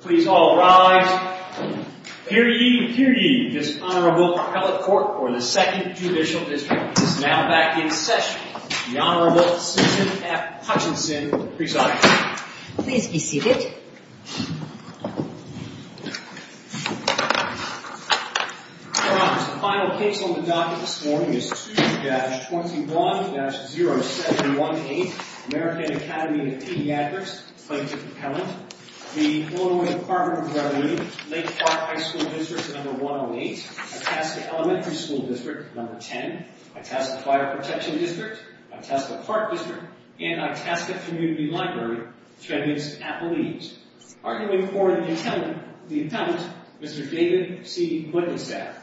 Please all rise. Hear ye, hear ye, this Honorable Appellate Court for the 2nd Judicial District is now back in session. The Honorable Susan F. Hutchinson presiding. Please be seated. Your honors, the final case on the docket this morning is 2-21-0718, American Academy of Pediatrics, plaintiff appellant. The Illinois Department of Revenue, Lake Park High School District No. 108, Itasca Elementary School District No. 10, Itasca Fire Protection District, Itasca Park District, and Itasca Community Library, defendants appellees. Arguing for the appellant, Mr. David C. Wittenstaff.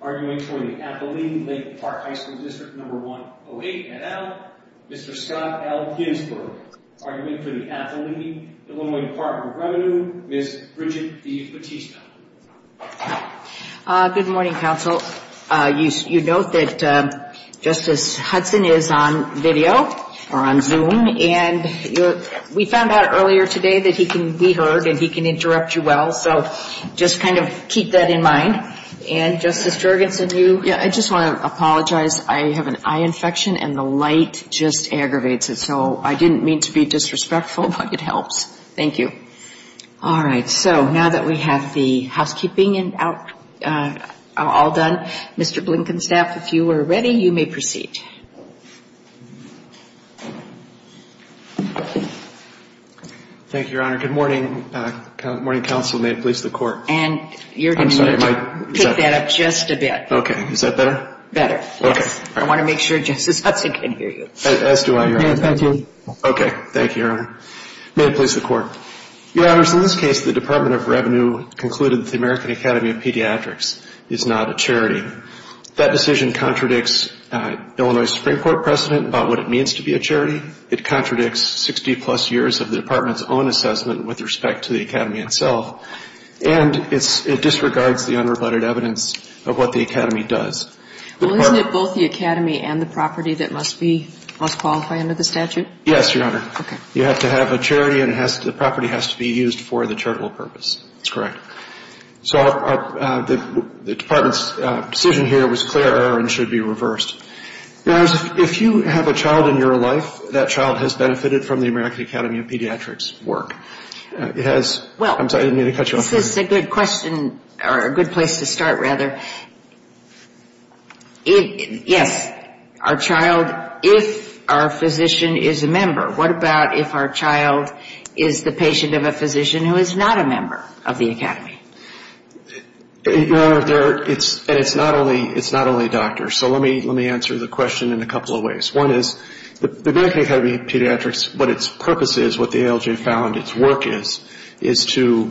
Arguing for the appellee, Lake Park High School District No. 108, Mr. Scott L. Ginsberg. Arguing for the appellee, Illinois Department of Revenue, Ms. Bridget D. Bautista. Good morning, counsel. You note that Justice Hudson is on video, or on Zoom, and we found out earlier today that he can be heard and he can interrupt you well, so just kind of keep that in mind. And Justice Jurgensen, you? Yeah, I just want to apologize. I have an eye infection and the light just aggravates it, so I didn't mean to be disrespectful, but it helps. Thank you. All right, so now that we have the housekeeping all done, Mr. Blinkenstaff, if you are ready, you may proceed. Thank you, Your Honor. Good morning, counsel. May it please the Court. And you're going to need to pick that up just a bit. Okay, is that better? Better, yes. I want to make sure Justice Hudson can hear you. As do I, Your Honor. Thank you. Okay, thank you, Your Honor. May it please the Court. Your Honors, in this case, the Department of Revenue concluded that the American Academy of Pediatrics is not a charity. That decision contradicts Illinois' Supreme Court precedent about what it means to be a charity. It contradicts 60-plus years of the Department's own assessment with respect to the Academy itself, and it disregards the unrebutted evidence of what the Academy does. Well, isn't it both the Academy and the property that must qualify under the statute? Yes, Your Honor. Okay. You have to have a charity, and the property has to be used for the charitable purpose. That's correct. So the Department's decision here was clear and should be reversed. Now, if you have a child in your life, that child has benefited from the American Academy of Pediatrics' work. It has – I'm sorry, I didn't mean to cut you off. This is a good question – or a good place to start, rather. Yes, our child, if our physician is a member. What about if our child is the patient of a physician who is not a member of the Academy? Your Honor, it's not only doctors. So let me answer the question in a couple of ways. One is the American Academy of Pediatrics, what its purpose is, what the ALJ found its work is, is to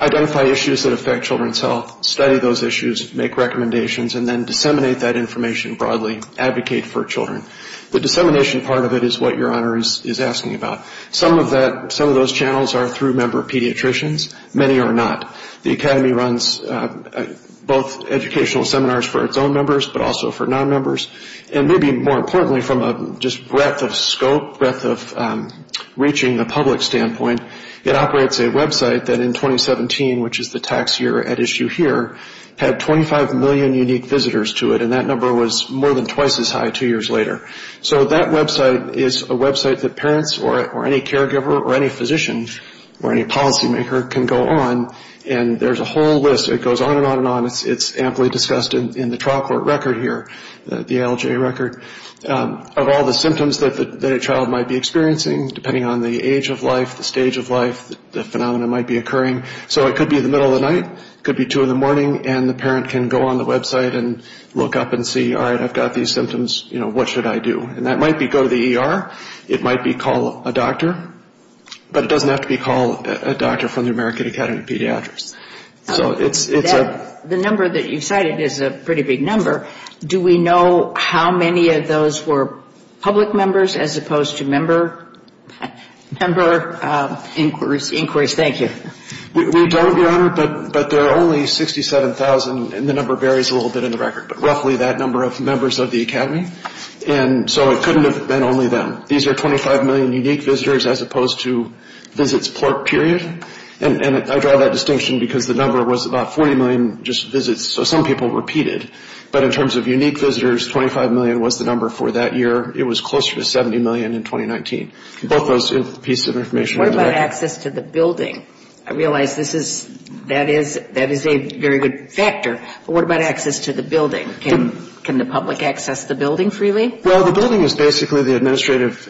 identify issues that affect children's health, study those issues, make recommendations, and then disseminate that information broadly, advocate for children. The dissemination part of it is what Your Honor is asking about. Some of that, some of those channels are through member pediatricians. Many are not. The Academy runs both educational seminars for its own members, but also for non-members, and maybe more importantly from a just breadth of scope, breadth of reaching the public standpoint, it operates a website that in 2017, which is the tax year at issue here, had 25 million unique visitors to it, and that number was more than twice as high two years later. So that website is a website that parents or any caregiver or any physician or any policymaker can go on, and there's a whole list. It goes on and on and on. It's amply discussed in the trial court record here. The ALJ record, of all the symptoms that a child might be experiencing, depending on the age of life, the stage of life, the phenomenon might be occurring. So it could be the middle of the night. It could be 2 in the morning, and the parent can go on the website and look up and see, all right, I've got these symptoms, you know, what should I do? And that might be go to the ER. It might be call a doctor. But it doesn't have to be call a doctor from the American Academy of Pediatrics. The number that you cited is a pretty big number. Do we know how many of those were public members as opposed to member inquiries? Thank you. We don't, Your Honor, but there are only 67,000, and the number varies a little bit in the record, but roughly that number of members of the academy. And so it couldn't have been only them. These are 25 million unique visitors as opposed to visits port period. And I draw that distinction because the number was about 40 million just visits. So some people repeated. But in terms of unique visitors, 25 million was the number for that year. It was closer to 70 million in 2019. Both those pieces of information are in the record. What about access to the building? I realize that is a very good factor, but what about access to the building? Can the public access the building freely? Well, the building is basically the administrative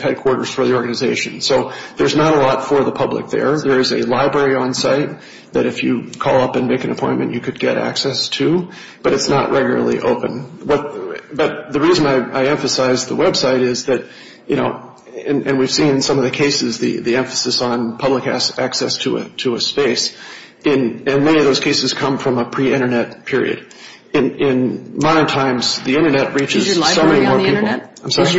headquarters for the organization. So there's not a lot for the public there. There is a library on site that if you call up and make an appointment, you could get access to, but it's not regularly open. But the reason I emphasize the website is that, you know, and we've seen some of the cases, the emphasis on public access to a space, and many of those cases come from a pre-Internet period. In modern times, the Internet reaches so many more people. Is your library on the Internet? I'm sorry?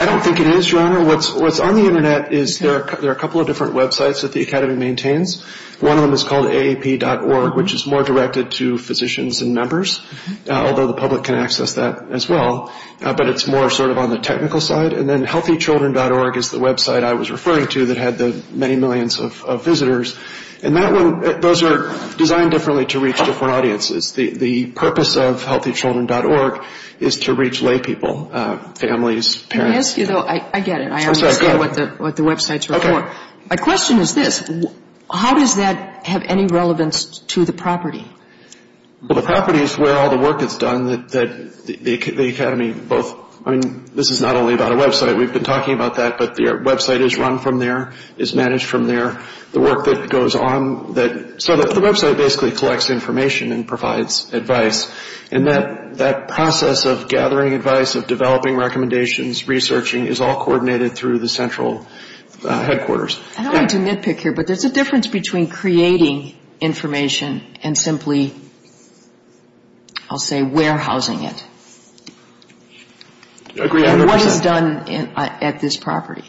I don't think it is, Your Honor. What's on the Internet is there are a couple of different websites that the Academy maintains. One of them is called aap.org, which is more directed to physicians and members, although the public can access that as well. But it's more sort of on the technical side. And then healthychildren.org is the website I was referring to that had the many millions of visitors. And that one, those are designed differently to reach different audiences. The purpose of healthychildren.org is to reach lay people, families, parents. Can I ask you, though? I get it. I understand what the websites are for. Okay. My question is this. How does that have any relevance to the property? Well, the property is where all the work is done that the Academy both, I mean, this is not only about a website. We've been talking about that. But the website is run from there, is managed from there. The work that goes on that, so the website basically collects information and provides advice. And that process of gathering advice, of developing recommendations, researching is all coordinated through the central headquarters. I don't want to nitpick here, but there's a difference between creating information and simply, I'll say, warehousing it. I agree 100%. What is done at this property?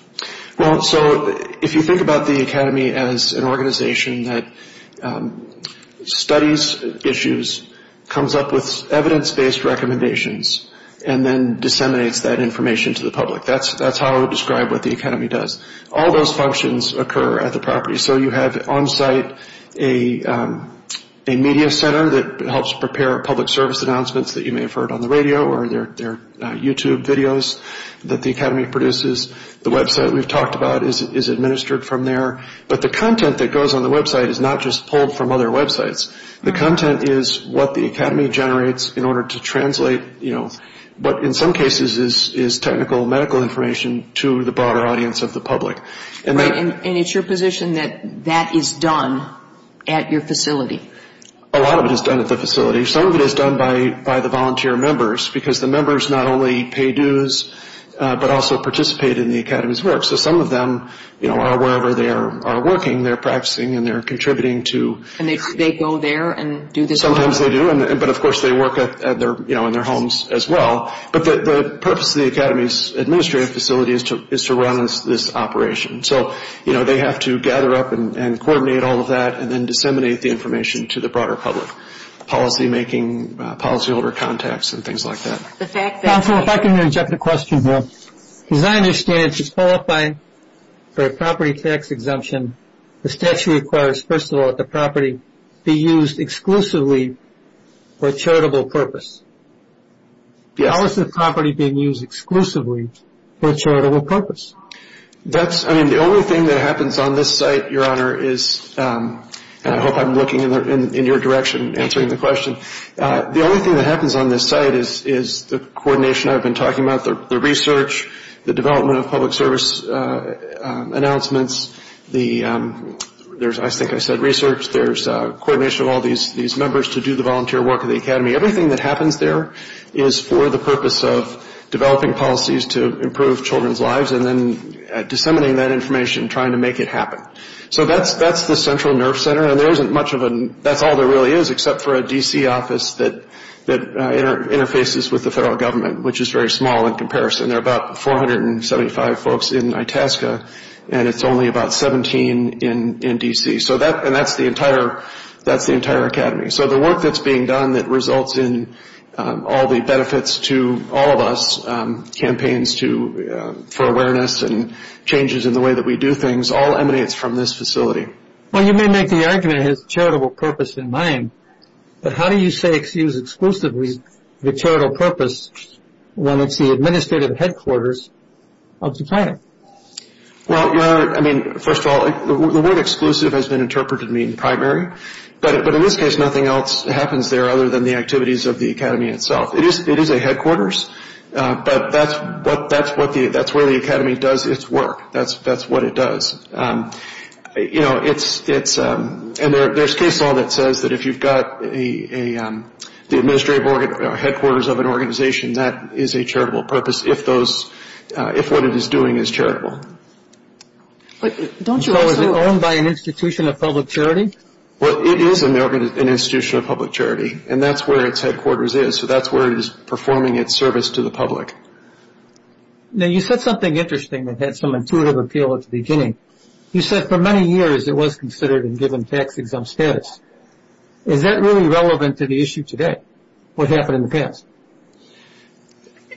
Well, so if you think about the Academy as an organization that studies issues, comes up with evidence-based recommendations, and then disseminates that information to the public. That's how I would describe what the Academy does. All those functions occur at the property. So you have on-site a media center that helps prepare public service announcements that you may have heard on the radio or their YouTube videos that the Academy produces. The website we've talked about is administered from there. But the content that goes on the website is not just pulled from other websites. The content is what the Academy generates in order to translate, you know, what in some cases is technical medical information to the broader audience of the public. And it's your position that that is done at your facility? A lot of it is done at the facility. Some of it is done by the volunteer members, because the members not only pay dues, but also participate in the Academy's work. So some of them, you know, are wherever they are working. They're practicing and they're contributing to. And they go there and do this work? Sometimes they do. But, of course, they work in their homes as well. But the purpose of the Academy's administrative facility is to run this operation. So, you know, they have to gather up and coordinate all of that and then disseminate the information to the broader public, policymaking, policyholder contacts and things like that. Counsel, if I can interject a question here. As I understand it, to qualify for a property tax exemption, the statute requires, first of all, that the property be used exclusively for charitable purpose. Yes. How is the property being used exclusively for charitable purpose? That's, I mean, the only thing that happens on this site, Your Honor, is, and I hope I'm looking in your direction answering the question. The only thing that happens on this site is the coordination I've been talking about, the research, the development of public service announcements. There's, I think I said research. There's coordination of all these members to do the volunteer work of the Academy. Everything that happens there is for the purpose of developing policies to improve children's lives and then disseminating that information, trying to make it happen. So that's the central nerve center. That's all there really is except for a D.C. office that interfaces with the federal government, which is very small in comparison. There are about 475 folks in Itasca, and it's only about 17 in D.C. And that's the entire Academy. So the work that's being done that results in all the benefits to all of us, campaigns for awareness and changes in the way that we do things, all emanates from this facility. Well, you may make the argument it has charitable purpose in mind, but how do you say it's used exclusively for charitable purpose when it's the administrative headquarters of the Academy? Well, I mean, first of all, the word exclusive has been interpreted to mean primary, but in this case nothing else happens there other than the activities of the Academy itself. It is a headquarters, but that's where the Academy does its work. That's what it does. And there's case law that says that if you've got the administrative headquarters of an organization, that is a charitable purpose if what it is doing is charitable. So is it owned by an institution of public charity? Well, it is an institution of public charity, and that's where its headquarters is. So that's where it is performing its service to the public. Now, you said something interesting that had some intuitive appeal at the beginning. You said for many years it was considered and given tax-exempt status. Is that really relevant to the issue today? What happened in the past?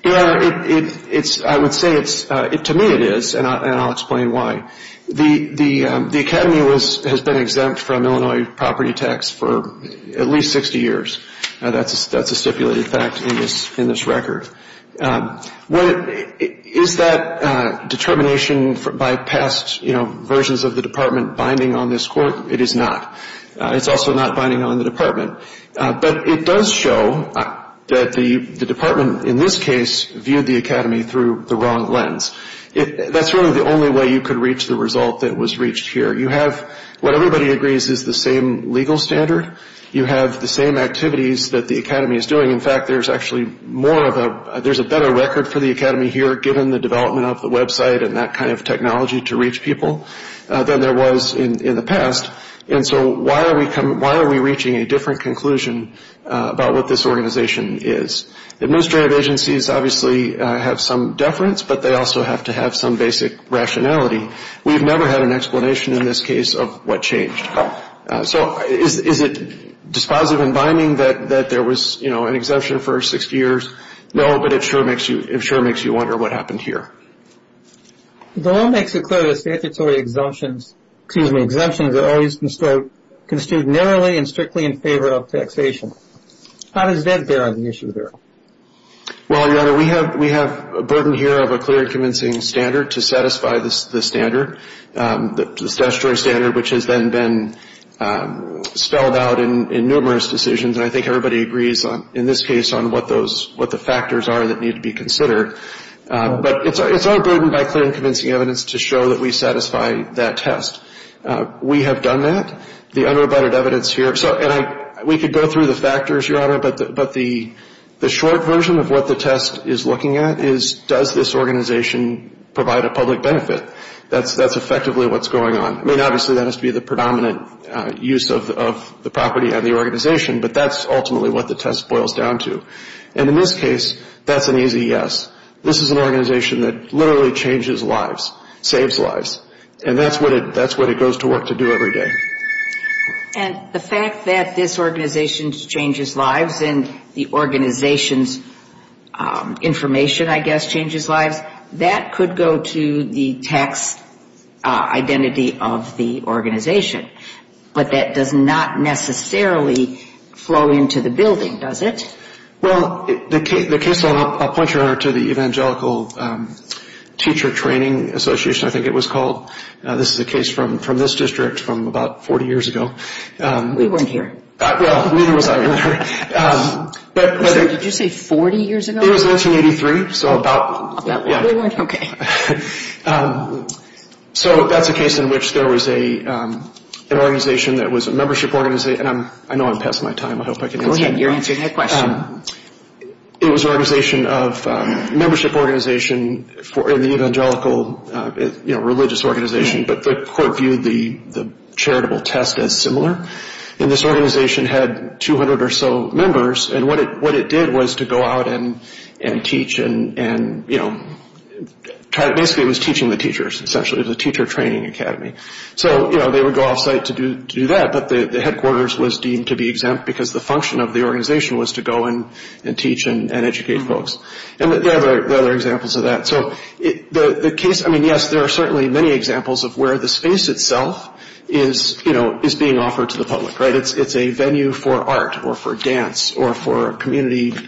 I would say to me it is, and I'll explain why. The Academy has been exempt from Illinois property tax for at least 60 years. That's a stipulated fact in this record. Is that determination by past versions of the Department binding on this Court? It is not. It's also not binding on the Department. But it does show that the Department in this case viewed the Academy through the wrong lens. That's really the only way you could reach the result that was reached here. You have what everybody agrees is the same legal standard. You have the same activities that the Academy is doing. In fact, there's actually more of a – there's a better record for the Academy here, given the development of the website and that kind of technology to reach people than there was in the past. And so why are we reaching a different conclusion about what this organization is? Administrative agencies obviously have some deference, but they also have to have some basic rationality. We've never had an explanation in this case of what changed. So is it dispositive in binding that there was an exemption for 60 years? No, but it sure makes you wonder what happened here. The law makes it clear that statutory exemptions are always construed narrowly and strictly in favor of taxation. How does that bear on the issue there? Well, Your Honor, we have a burden here of a clear, convincing standard to satisfy the standard, the statutory standard, which has then been spelled out in numerous decisions. And I think everybody agrees in this case on what those – what the factors are that need to be considered. But it's our burden by clear and convincing evidence to show that we satisfy that test. We have done that. The unrebutted evidence here – and we could go through the factors, Your Honor, but the short version of what the test is looking at is does this organization provide a public benefit? That's effectively what's going on. I mean, obviously, that has to be the predominant use of the property on the organization, but that's ultimately what the test boils down to. And in this case, that's an easy yes. This is an organization that literally changes lives, saves lives. And that's what it goes to work to do every day. And the fact that this organization changes lives and the organization's information, I guess, changes lives, that could go to the tax identity of the organization. But that does not necessarily flow into the building, does it? Well, the case – I'll point you, Your Honor, to the Evangelical Teacher Training Association, I think it was called. This is a case from this district from about 40 years ago. We weren't here. Well, neither was I. Did you say 40 years ago? It was 1983, so about – yeah. Okay. So that's a case in which there was an organization that was a membership organization. And I know I'm passing my time. I hope I can answer your question. Go ahead. You're answering that question. It was an organization of – a membership organization in the Evangelical religious organization, but the court viewed the charitable test as similar. And this organization had 200 or so members. And what it did was to go out and teach and, you know, basically it was teaching the teachers, essentially. It was a teacher training academy. So, you know, they would go off-site to do that, but the headquarters was deemed to be exempt because the function of the organization was to go and teach and educate folks. And there are other examples of that. So the case – I mean, yes, there are certainly many examples of where the space itself is, you know, is being offered to the public, right? It's a venue for art or for dance or for a community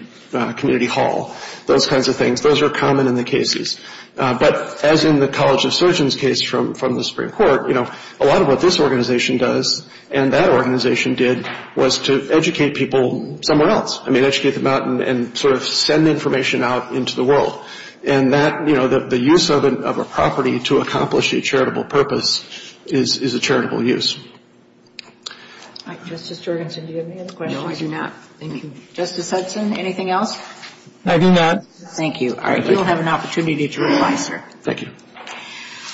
hall, those kinds of things. Those are common in the cases. But as in the College of Surgeons case from the Supreme Court, you know, a lot of what this organization does and that organization did was to educate people somewhere else. I mean, educate them out and sort of send information out into the world. And that, you know, the use of a property to accomplish a charitable purpose is a charitable use. All right, Justice Jorgensen, do you have any other questions? No, I do not. Thank you. Justice Hudson, anything else? I do not. Thank you. All right, you'll have an opportunity to reply, sir. Thank you.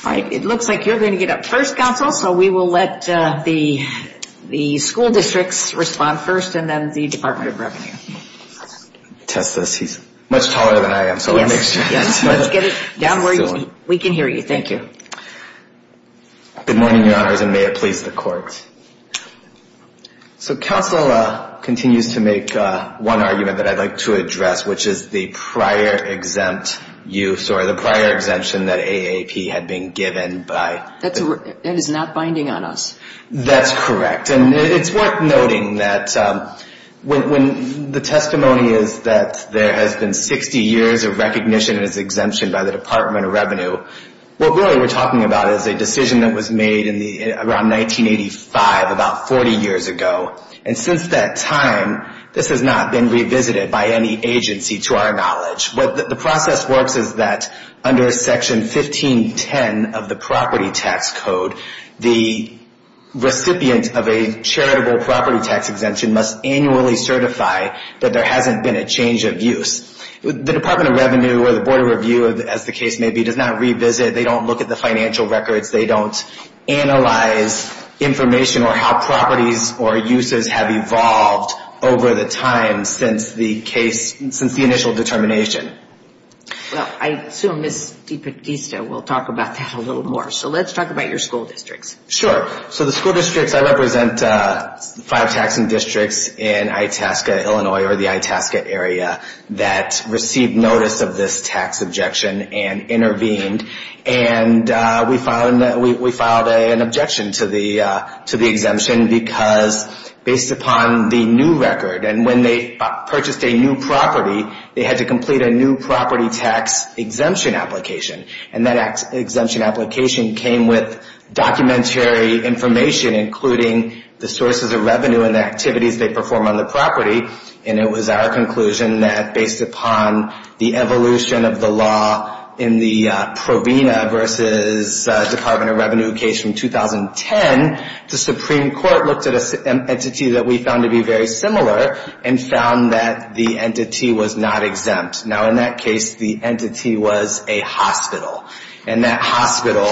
All right, it looks like you're going to get up first, counsel, so we will let the school districts respond first and then the Department of Revenue. Test this. He's much taller than I am, so let me make sure. Yes, let's get it down where we can hear you. Thank you. Good morning, Your Honors, and may it please the Court. So counsel continues to make one argument that I'd like to address, which is the prior exempt use or the prior exemption that AAP had been given by. That is not binding on us. That's correct. And it's worth noting that when the testimony is that there has been 60 years of recognition as exemption by the Department of Revenue, what really we're talking about is a decision that was made around 1985, about 40 years ago. And since that time, this has not been revisited by any agency to our knowledge. What the process works is that under Section 1510 of the Property Tax Code, the recipient of a charitable property tax exemption must annually certify that there hasn't been a change of use. The Department of Revenue or the Board of Review, as the case may be, does not revisit. They don't look at the financial records. They don't analyze information or how properties or uses have evolved over the time since the initial determination. Well, I assume Ms. DiPartista will talk about that a little more. So let's talk about your school districts. Sure. So the school districts, I represent five taxing districts in Itasca, Illinois, or the Itasca area, that received notice of this tax objection and intervened. And we filed an objection to the exemption because based upon the new record, and when they purchased a new property, they had to complete a new property tax exemption application. And that exemption application came with documentary information, including the sources of revenue and the activities they perform on the property. And it was our conclusion that based upon the evolution of the law in the Provena v. Department of Revenue case from 2010, the Supreme Court looked at an entity that we found to be very similar and found that the entity was not exempt. Now, in that case, the entity was a hospital. And that hospital,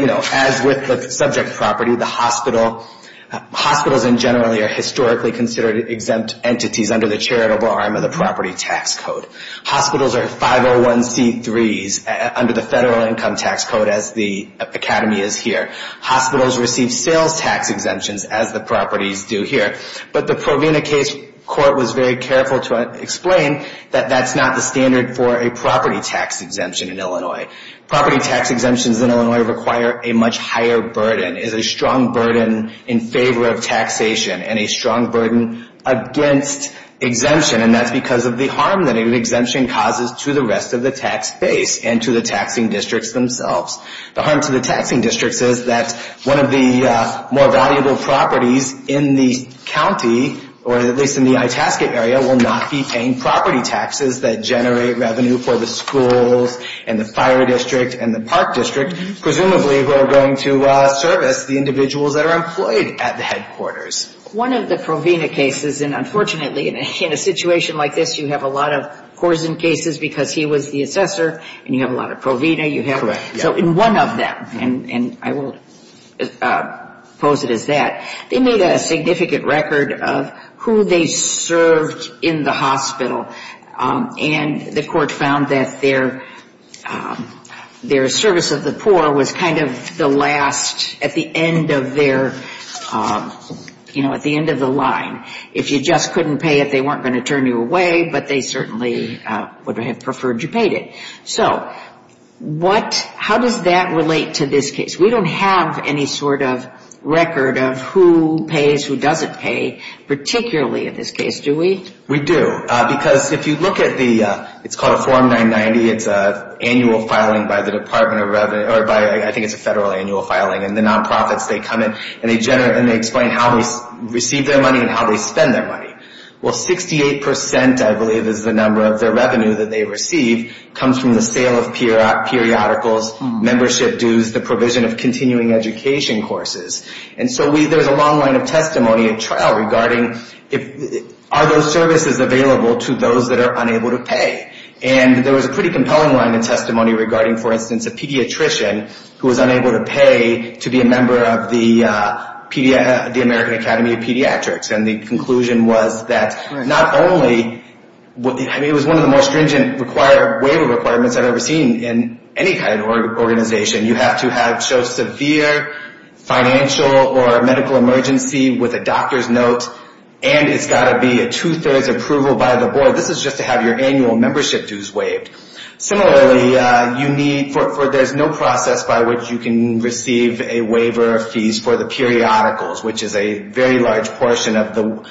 you know, as with the subject property, the hospital, hospitals in general, are historically considered exempt entities under the charitable arm of the property tax code. Hospitals are 501c3s under the federal income tax code, as the academy is here. Hospitals receive sales tax exemptions, as the properties do here. But the Provena case court was very careful to explain that that's not the standard for a property tax exemption in Illinois. Property tax exemptions in Illinois require a much higher burden, is a strong burden in favor of taxation and a strong burden against exemption. And that's because of the harm that an exemption causes to the rest of the tax base and to the taxing districts themselves. The harm to the taxing districts is that one of the more valuable properties in the county, or at least in the Itasca area, will not be paying property taxes that generate revenue for the schools and the fire district and the park district, presumably who are going to service the individuals that are employed at the headquarters. One of the Provena cases, and unfortunately, in a situation like this, you have a lot of Corzine cases because he was the assessor, and you have a lot of Provena. So in one of them, and I will pose it as that, they made a significant record of who they served in the hospital. And the court found that their service of the poor was kind of the last at the end of their, you know, at the end of the line. If you just couldn't pay it, they weren't going to turn you away, but they certainly would have preferred you paid it. So how does that relate to this case? We don't have any sort of record of who pays, who doesn't pay, particularly in this case, do we? We do, because if you look at the, it's called a Form 990. It's an annual filing by the Department of Revenue, or I think it's a federal annual filing, and the nonprofits, they come in and they generate and they explain how they receive their money and how they spend their money. Well, 68%, I believe is the number of their revenue that they receive, comes from the sale of periodicals, membership dues, the provision of continuing education courses. And so there's a long line of testimony at trial regarding are those services available to those that are unable to pay? And there was a pretty compelling line of testimony regarding, for instance, a pediatrician who was unable to pay to be a member of the American Academy of Pediatrics. And the conclusion was that not only, I mean, it was one of the most stringent waiver requirements I've ever seen in any kind of organization. You have to show severe financial or medical emergency with a doctor's note, and it's got to be a two-thirds approval by the board. This is just to have your annual membership dues waived. Similarly, you need, there's no process by which you can receive a waiver of fees for the periodicals, which is a very large portion of the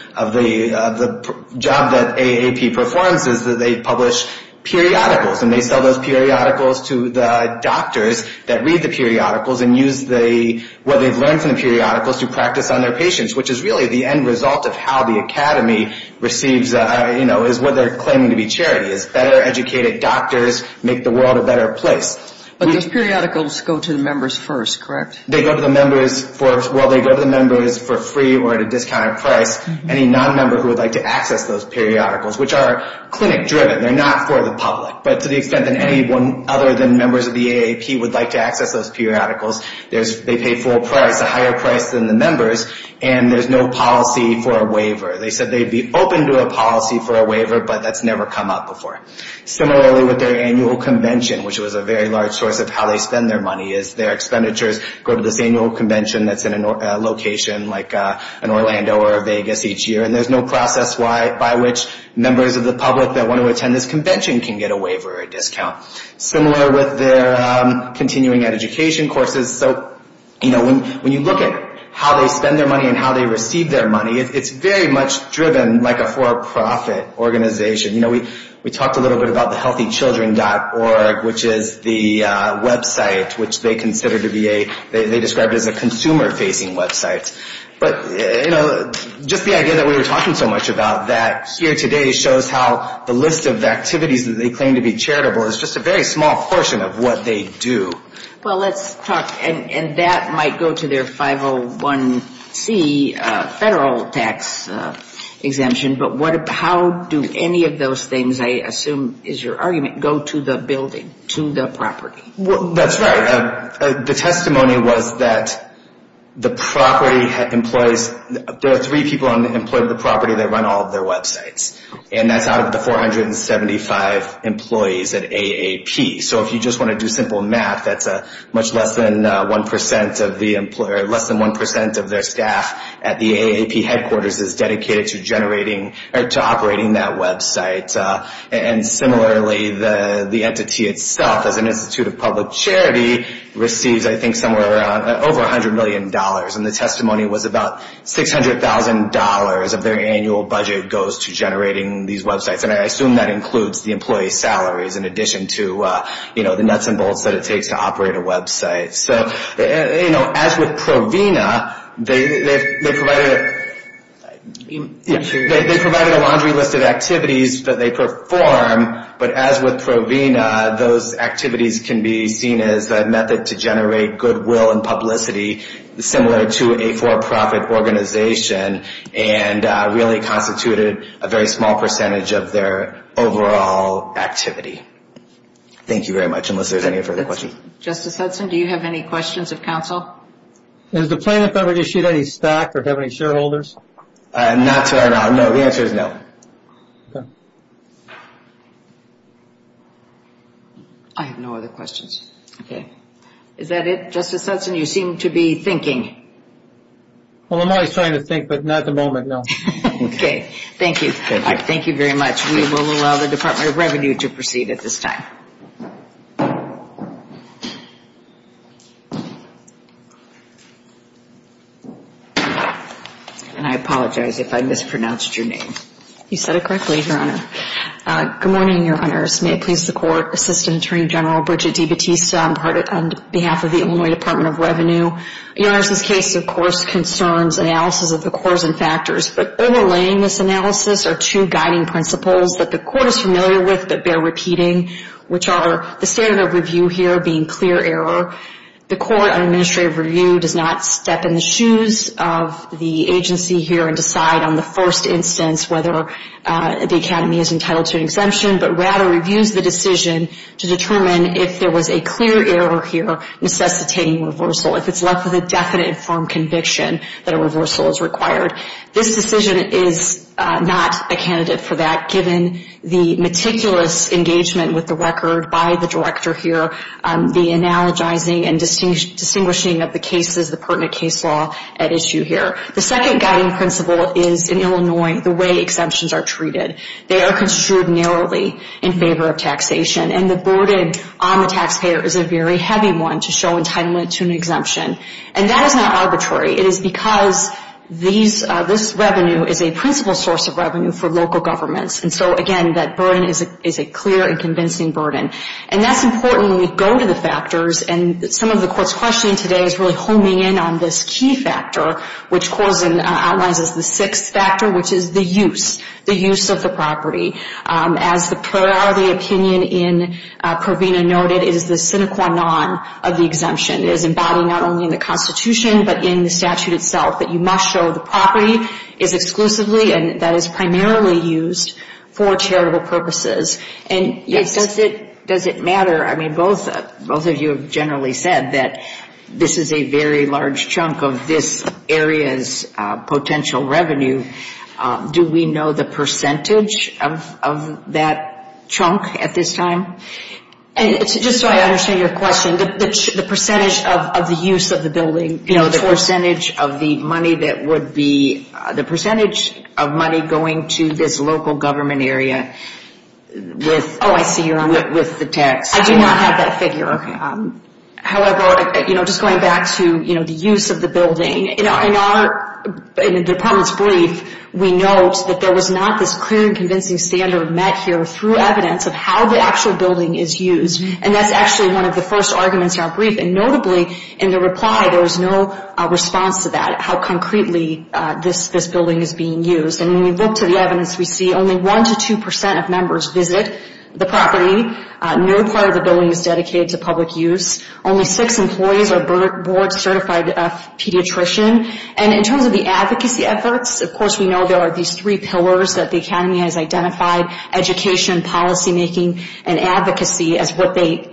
job that AAP performs is that they publish periodicals. And they sell those periodicals to the doctors that read the periodicals and use what they've learned from the periodicals to practice on their patients, which is really the end result of how the academy receives, you know, is what they're claiming to be charity, is better educated doctors make the world a better place. But those periodicals go to the members first, correct? They go to the members for, well, they go to the members for free or at a discounted price. Any non-member who would like to access those periodicals, which are clinic-driven, they're not for the public. But to the extent that anyone other than members of the AAP would like to access those periodicals, they pay full price, a higher price than the members, and there's no policy for a waiver. They said they'd be open to a policy for a waiver, but that's never come up before. Similarly, with their annual convention, which was a very large source of how they spend their money, is their expenditures go to this annual convention that's in a location like an Orlando or a Vegas each year, and there's no process by which members of the public that want to attend this convention can get a waiver or a discount. Similar with their continuing education courses, so, you know, when you look at how they spend their money and how they receive their money, it's very much driven like a for-profit organization. You know, we talked a little bit about the healthychildren.org, which is the website, which they consider to be a they describe it as a consumer-facing website. But, you know, just the idea that we were talking so much about that here today shows how the list of activities that they claim to be charitable is just a very small portion of what they do. Well, let's talk, and that might go to their 501C federal tax exemption, but how do any of those things, I assume is your argument, go to the building, to the property? Well, that's right. The testimony was that the property employs, there are three people on the property that run all of their websites, and that's out of the 475 employees at AAP. So if you just want to do simple math, that's much less than 1% of their staff at the AAP headquarters is dedicated to generating or to operating that website. And similarly, the entity itself, as an institute of public charity, receives, I think, somewhere around, over $100 million, and the testimony was about $600,000 of their annual budget goes to generating these websites. And I assume that includes the employee salaries in addition to the nuts and bolts that it takes to operate a website. So, you know, as with Provena, they provided a laundry list of activities that they perform, but as with Provena, those activities can be seen as a method to generate goodwill and publicity, similar to a for-profit organization, and really constituted a very small percentage of their overall activity. Thank you very much, unless there's any further questions. Justice Hudson, do you have any questions of counsel? Has the plaintiff ever issued any stock or have any shareholders? Not so far, no. The answer is no. I have no other questions. Is that it, Justice Hudson? You seem to be thinking. Well, I'm always trying to think, but not at the moment, no. Okay, thank you. Thank you very much. We will allow the Department of Revenue to proceed at this time. And I apologize if I mispronounced your name. You said it correctly, Your Honor. Good morning, Your Honors. May it please the Court, Assistant Attorney General Bridget D. Batista, on behalf of the Illinois Department of Revenue. Your Honor, this case, of course, concerns analysis of the cause and factors, but overlaying this analysis are two guiding principles that the Court is familiar with that bear repeating, which are the standard of review here being clear error. The Court on Administrative Review does not step in the shoes of the agency here and decide on the first instance whether the Academy is entitled to an exemption, but rather reviews the decision to determine if there was a clear error here necessitating reversal, if it's left with a definite and firm conviction that a reversal is required. This decision is not a candidate for that, given the meticulous engagement with the record by the Director here, the analogizing and distinguishing of the pertinent case law at issue here. The second guiding principle is, in Illinois, the way exemptions are treated. They are construed narrowly in favor of taxation. And the burden on the taxpayer is a very heavy one to show entitlement to an exemption. And that is not arbitrary. It is because this revenue is a principal source of revenue for local governments. And so, again, that burden is a clear and convincing burden. And that's important when we go to the factors, and some of the Court's questioning today is really homing in on this key factor, which outlines as the sixth factor, which is the use. As the priority opinion in Provena noted, it is the sine qua non of the exemption. It is embodied not only in the Constitution, but in the statute itself, that you must show the property is exclusively and that is primarily used for charitable purposes. And does it matter? I mean, both of you have generally said that this is a very large chunk of this area's potential revenue. Do we know the percentage of that chunk at this time? Just so I understand your question, the percentage of the use of the building? You know, the percentage of the money that would be, the percentage of money going to this local government area with the tax. I do not have that figure. However, just going back to the use of the building, in our department's brief, we note that there was not this clear and convincing standard met here through evidence of how the actual building is used. And that's actually one of the first arguments in our brief. And notably, in the reply, there was no response to that, how concretely this building is being used. And when we look to the evidence, we see only 1 to 2 percent of members visit the property. No part of the building is dedicated to public use. Only six employees are board-certified pediatrician. And in terms of the advocacy efforts, of course, we know there are these three pillars that the Academy has identified, education, policymaking, and advocacy, as what they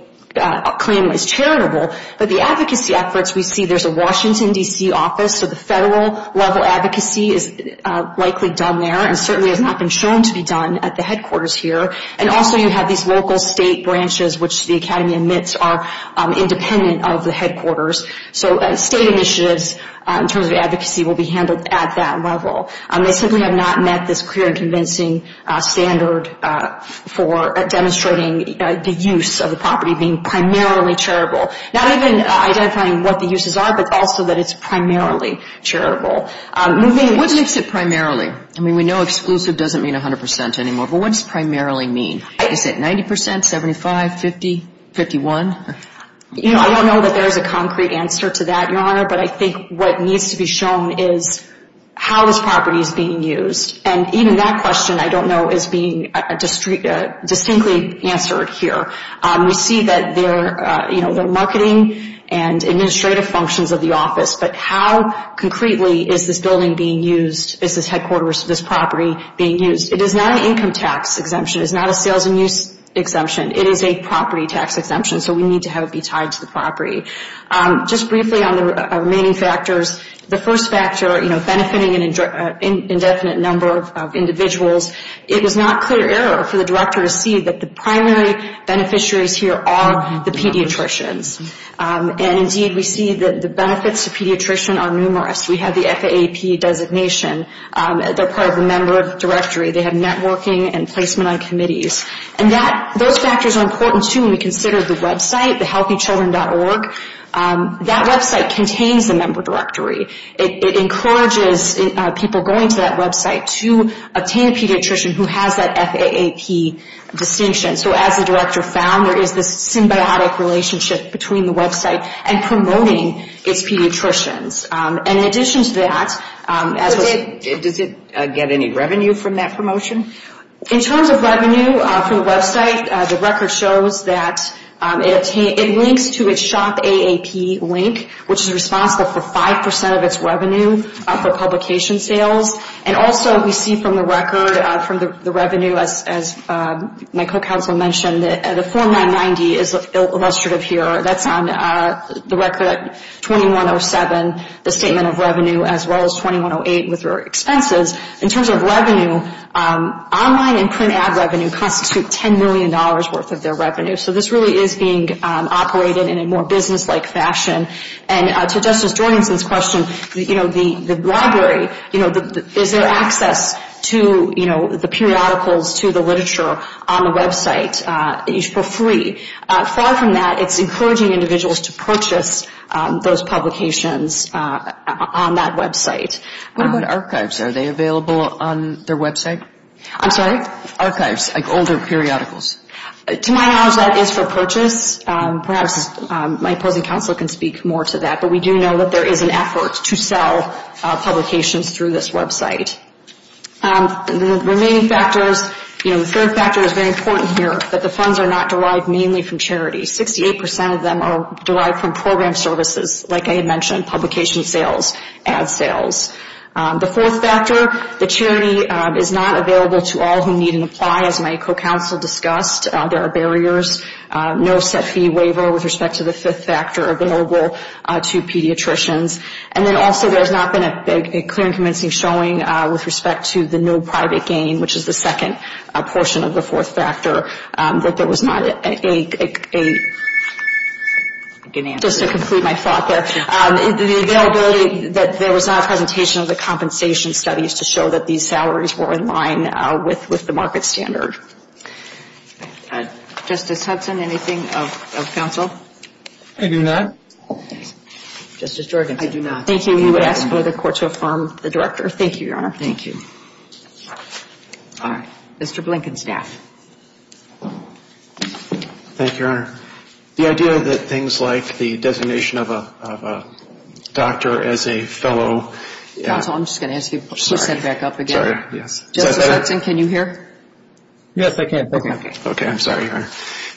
claim is charitable. But the advocacy efforts, we see there's a Washington, D.C., office, so the federal-level advocacy is likely done there and certainly has not been shown to be done at the headquarters here. And also you have these local state branches, which the Academy admits are independent of the headquarters. So state initiatives, in terms of advocacy, will be handled at that level. They simply have not met this clear and convincing standard for demonstrating the use of the property being primarily charitable. Not even identifying what the uses are, but also that it's primarily charitable. What makes it primarily? I mean, we know exclusive doesn't mean 100 percent anymore, but what does primarily mean? Is it 90 percent, 75, 50, 51? You know, I don't know that there's a concrete answer to that, Your Honor, but I think what needs to be shown is how this property is being used. And even that question, I don't know, is being distinctly answered here. We see that their marketing and administrative functions of the office, but how concretely is this building being used, is this headquarters, this property being used? It is not an income tax exemption. It is not a sales and use exemption. It is a property tax exemption, so we need to have it be tied to the property. Just briefly on the remaining factors, the first factor, you know, benefiting an indefinite number of individuals, it was not clear error for the director to see that the primary beneficiaries here are the pediatricians. And, indeed, we see that the benefits to pediatricians are numerous. We have the FAAP designation. They're part of the member directory. They have networking and placement on committees. And those factors are important, too, when we consider the website, the HealthyChildren.org. That website contains the member directory. It encourages people going to that website to obtain a pediatrician who has that FAAP distinction. So as the director found, there is this symbiotic relationship between the website and promoting its pediatricians. And in addition to that, as was ---- Does it get any revenue from that promotion? In terms of revenue from the website, the record shows that it links to its shop AAP link, which is responsible for 5% of its revenue for publication sales. And also we see from the record, from the revenue, as my co-counsel mentioned, the 4990 is illustrative here. That's on the record 2107, the statement of revenue, as well as 2108 with their expenses. In terms of revenue, online and print ad revenue constitute $10 million worth of their revenue. So this really is being operated in a more businesslike fashion. And to Justice Jorgenson's question, the library, is there access to the periodicals, to the literature on the website for free? Far from that, it's encouraging individuals to purchase those publications on that website. What about archives? Are they available on their website? I'm sorry? Archives, like older periodicals. To my knowledge, that is for purchase. Perhaps my opposing counsel can speak more to that. But we do know that there is an effort to sell publications through this website. The remaining factors, you know, the third factor is very important here, that the funds are not derived mainly from charity. 68% of them are derived from program services, like I had mentioned, publication sales, ad sales. The fourth factor, the charity is not available to all who need and apply, as my co-counsel discussed. There are barriers. No set fee waiver with respect to the fifth factor available to pediatricians. And then also there has not been a clear and convincing showing with respect to the no private gain, which is the second portion of the fourth factor, that there was not a, just to complete my thought there, the availability that there was not a presentation of the compensation studies to show that these salaries were in line with the market standard. Justice Hudson, anything of counsel? I do not. Justice Jorgensen? I do not. Thank you. We would ask for the court to affirm the director. Thank you, Your Honor. All right. Mr. Blinken, staff. Thank you, Your Honor. The idea that things like the designation of a doctor as a fellow. Counsel, I'm just going to ask you to put that back up again. Sorry. Yes. Justice Hudson, can you hear? Yes, I can. Okay. Okay. I'm sorry, Your Honor.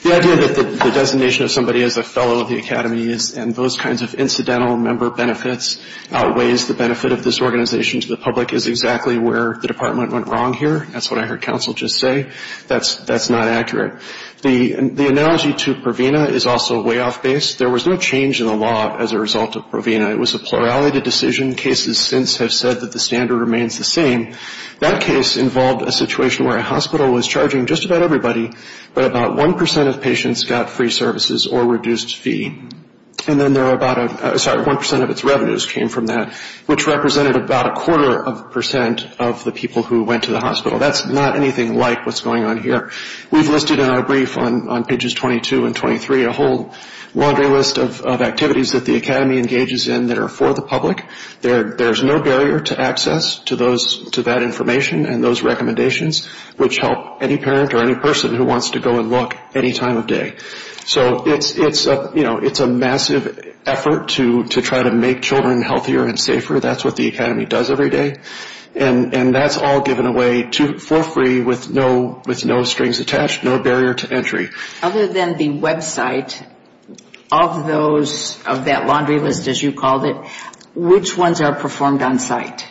The idea that the designation of somebody as a fellow of the Academy is, and those kinds of incidental member benefits outweighs the benefit of this organization to the public, is exactly where the department went wrong here. That's what I heard counsel just say. That's not accurate. The analogy to Provena is also way off base. There was no change in the law as a result of Provena. It was a plurality decision. Cases since have said that the standard remains the same. That case involved a situation where a hospital was charging just about everybody, but about 1% of patients got free services or reduced fee. And then there were about a, sorry, 1% of its revenues came from that, which represented about a quarter of a percent of the people who went to the hospital. That's not anything like what's going on here. We've listed in our brief on pages 22 and 23 a whole laundry list of activities that the Academy engages in that are for the public. There's no barrier to access to that information and those recommendations, which help any parent or any person who wants to go and look any time of day. So it's a massive effort to try to make children healthier and safer. That's what the Academy does every day. And that's all given away for free with no strings attached, no barrier to entry. Other than the website of those, of that laundry list as you called it, which ones are performed on site?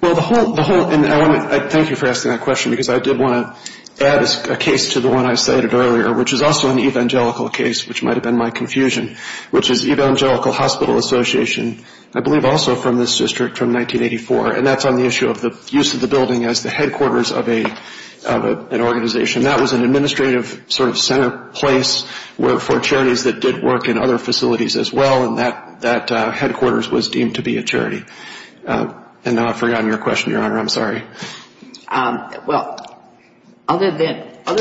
Well, the whole, and I want to thank you for asking that question, because I did want to add a case to the one I cited earlier, which is also an evangelical case, which might have been my confusion, which is Evangelical Hospital Association, I believe also from this district from 1984, and that's on the issue of the use of the building as the headquarters of an organization. That was an administrative sort of center place for charities that did work in other facilities as well, and that headquarters was deemed to be a charity. And now I've forgotten your question, Your Honor. I'm sorry. Well, other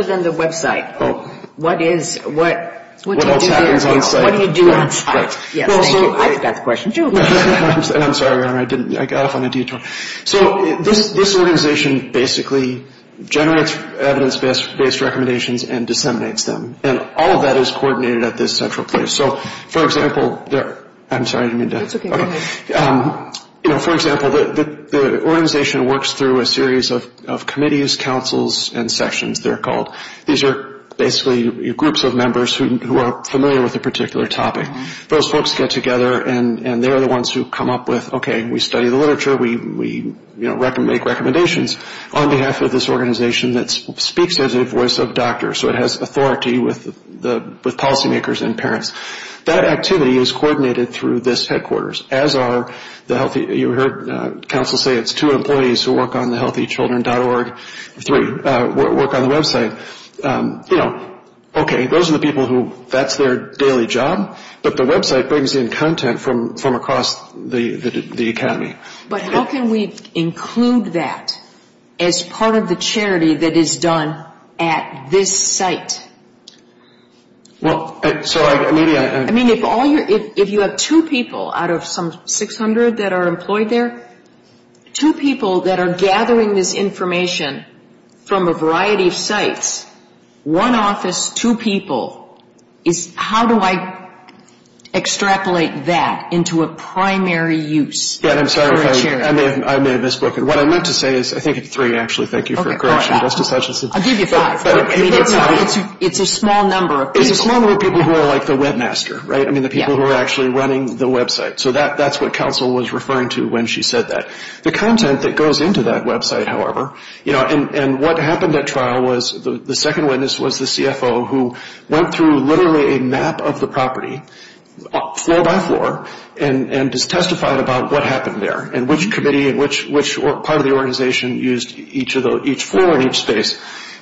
than the website, what is, what do you do on site? Yes, thank you. I forgot the question too. I'm sorry, Your Honor. I didn't, I got off on a detour. So this organization basically generates evidence-based recommendations and disseminates them, and all of that is coordinated at this central place. So, for example, I'm sorry, I didn't mean to. That's okay. Go ahead. You know, for example, the organization works through a series of committees, councils, and sections, they're called. These are basically groups of members who are familiar with a particular topic. Those folks get together, and they're the ones who come up with, okay, we study the literature, we make recommendations on behalf of this organization that speaks as a voice of doctor, so it has authority with policymakers and parents. That activity is coordinated through this headquarters, as are the healthy, you heard counsel say it's two employees who work on the healthychildren.org, three work on the website. You know, okay, those are the people who, that's their daily job, but the website brings in content from across the academy. But how can we include that as part of the charity that is done at this site? Well, so I, maybe I. I mean, if all your, if you have two people out of some 600 that are employed there, two people that are gathering this information from a variety of sites, one office, two people, is how do I extrapolate that into a primary use for a charity? I'm sorry, I may have misspoken. What I meant to say is, I think it's three, actually. Thank you for correcting me, Justice Hutchinson. I'll give you five. It's a small number of people. It's a small number of people who are like the webmaster, right? I mean, the people who are actually running the website. So that's what counsel was referring to when she said that. The content that goes into that website, however, you know, and what happened at trial was, the second witness was the CFO who went through literally a map of the property, floor by floor, and just testified about what happened there, and which committee and which part of the organization used each floor in each space.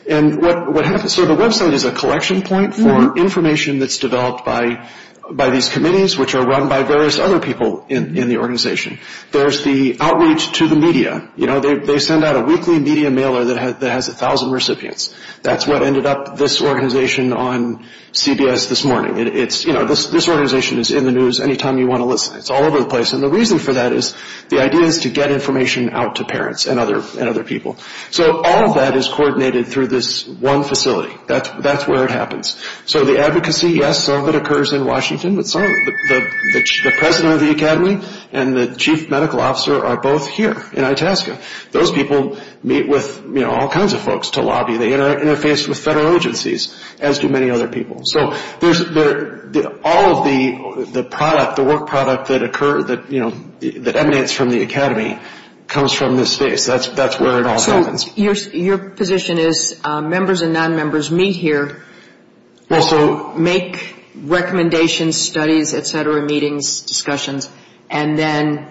And what happens, so the website is a collection point for information that's developed by these committees, which are run by various other people in the organization. There's the outreach to the media. You know, they send out a weekly media mailer that has 1,000 recipients. That's what ended up this organization on CBS this morning. It's, you know, this organization is in the news any time you want to listen. It's all over the place. And the reason for that is the idea is to get information out to parents and other people. So all of that is coordinated through this one facility. That's where it happens. So the advocacy, yes, some of it occurs in Washington, but some of it, the president of the academy and the chief medical officer are both here in Itasca. Those people meet with, you know, all kinds of folks to lobby. They interface with federal agencies, as do many other people. So all of the product, the work product that occur, that, you know, that emanates from the academy comes from this space. That's where it all happens. Your position is members and non-members meet here to make recommendations, studies, et cetera, meetings, discussions, and then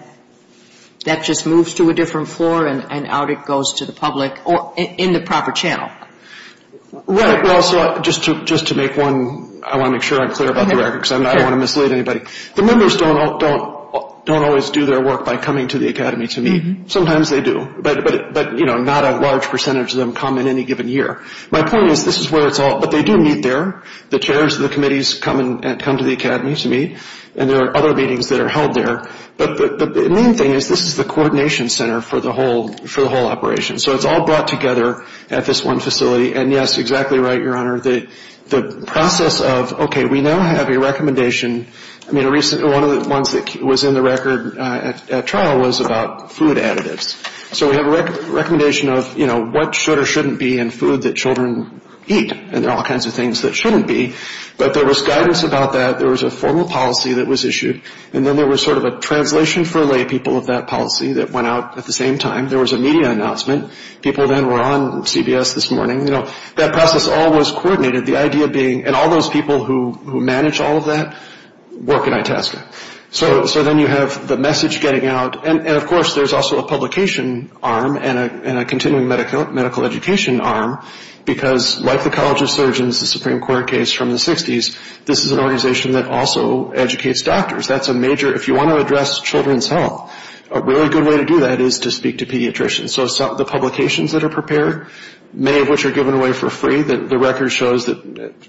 that just moves to a different floor and out it goes to the public in the proper channel. Right. Well, so just to make one, I want to make sure I'm clear about the records. I don't want to mislead anybody. The members don't always do their work by coming to the academy to meet. Sometimes they do. But, you know, not a large percentage of them come in any given year. My point is this is where it's all, but they do meet there. The chairs of the committees come to the academy to meet and there are other meetings that are held there. But the main thing is this is the coordination center for the whole operation. So it's all brought together at this one facility. And, yes, exactly right, Your Honor. The process of, okay, we now have a recommendation. One of the ones that was in the record at trial was about food additives. So we have a recommendation of, you know, what should or shouldn't be in food that children eat and all kinds of things that shouldn't be. But there was guidance about that. There was a formal policy that was issued. And then there was sort of a translation for laypeople of that policy that went out at the same time. There was a media announcement. People then were on CBS this morning. You know, that process all was coordinated. And all those people who manage all of that work at Itasca. So then you have the message getting out. And, of course, there's also a publication arm and a continuing medical education arm because, like the College of Surgeons, the Supreme Court case from the 60s, this is an organization that also educates doctors. If you want to address children's health, a really good way to do that is to speak to pediatricians. So the publications that are prepared, many of which are given away for free, the record shows that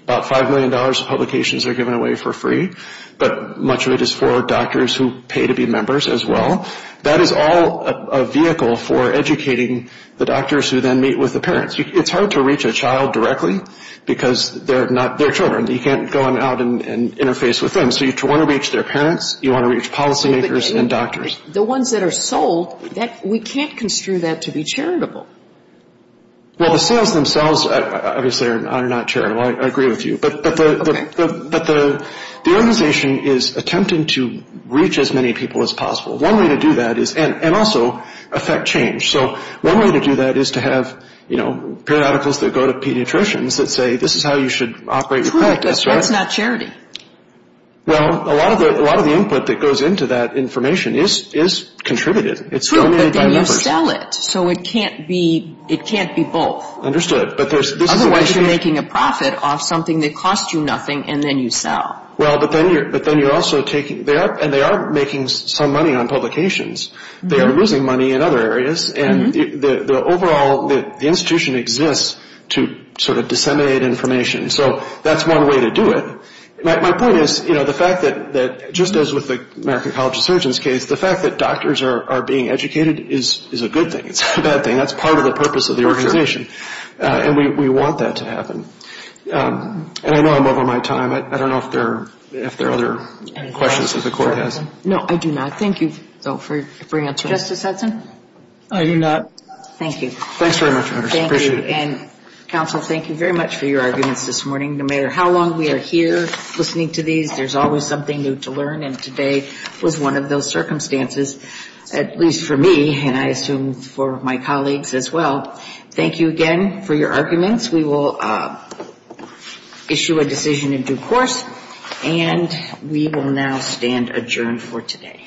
about $5 million of publications are given away for free. But much of it is for doctors who pay to be members as well. That is all a vehicle for educating the doctors who then meet with the parents. It's hard to reach a child directly because they're children. You can't go in and out and interface with them. So you want to reach their parents. You want to reach policymakers and doctors. The ones that are sold, we can't construe that to be charitable. Well, the sales themselves, obviously, are not charitable. I agree with you. But the organization is attempting to reach as many people as possible. One way to do that is, and also affect change. So one way to do that is to have periodicals that go to pediatricians that say this is how you should operate your practice. True, but that's not charity. Well, a lot of the input that goes into that information is contributed. True, but then you sell it. So it can't be both. Understood. Otherwise, you're making a profit off something that costs you nothing, and then you sell. Well, but then you're also taking, and they are making some money on publications. They are losing money in other areas. And the overall institution exists to sort of disseminate information. So that's one way to do it. My point is, you know, the fact that just as with the American College of Surgeons case, the fact that doctors are being educated is a good thing. It's not a bad thing. That's part of the purpose of the organization. And we want that to happen. And I know I'm over my time. I don't know if there are other questions that the Court has. No, I do not. Thank you, though, for answering. Justice Hudson? I do not. Thank you. Thanks very much. Appreciate it. And, counsel, thank you very much for your arguments this morning. No matter how long we are here listening to these, there's always something new to learn. And today was one of those circumstances, at least for me, and I assume for my colleagues as well. Thank you again for your arguments. We will issue a decision in due course. And we will now stand adjourned for today.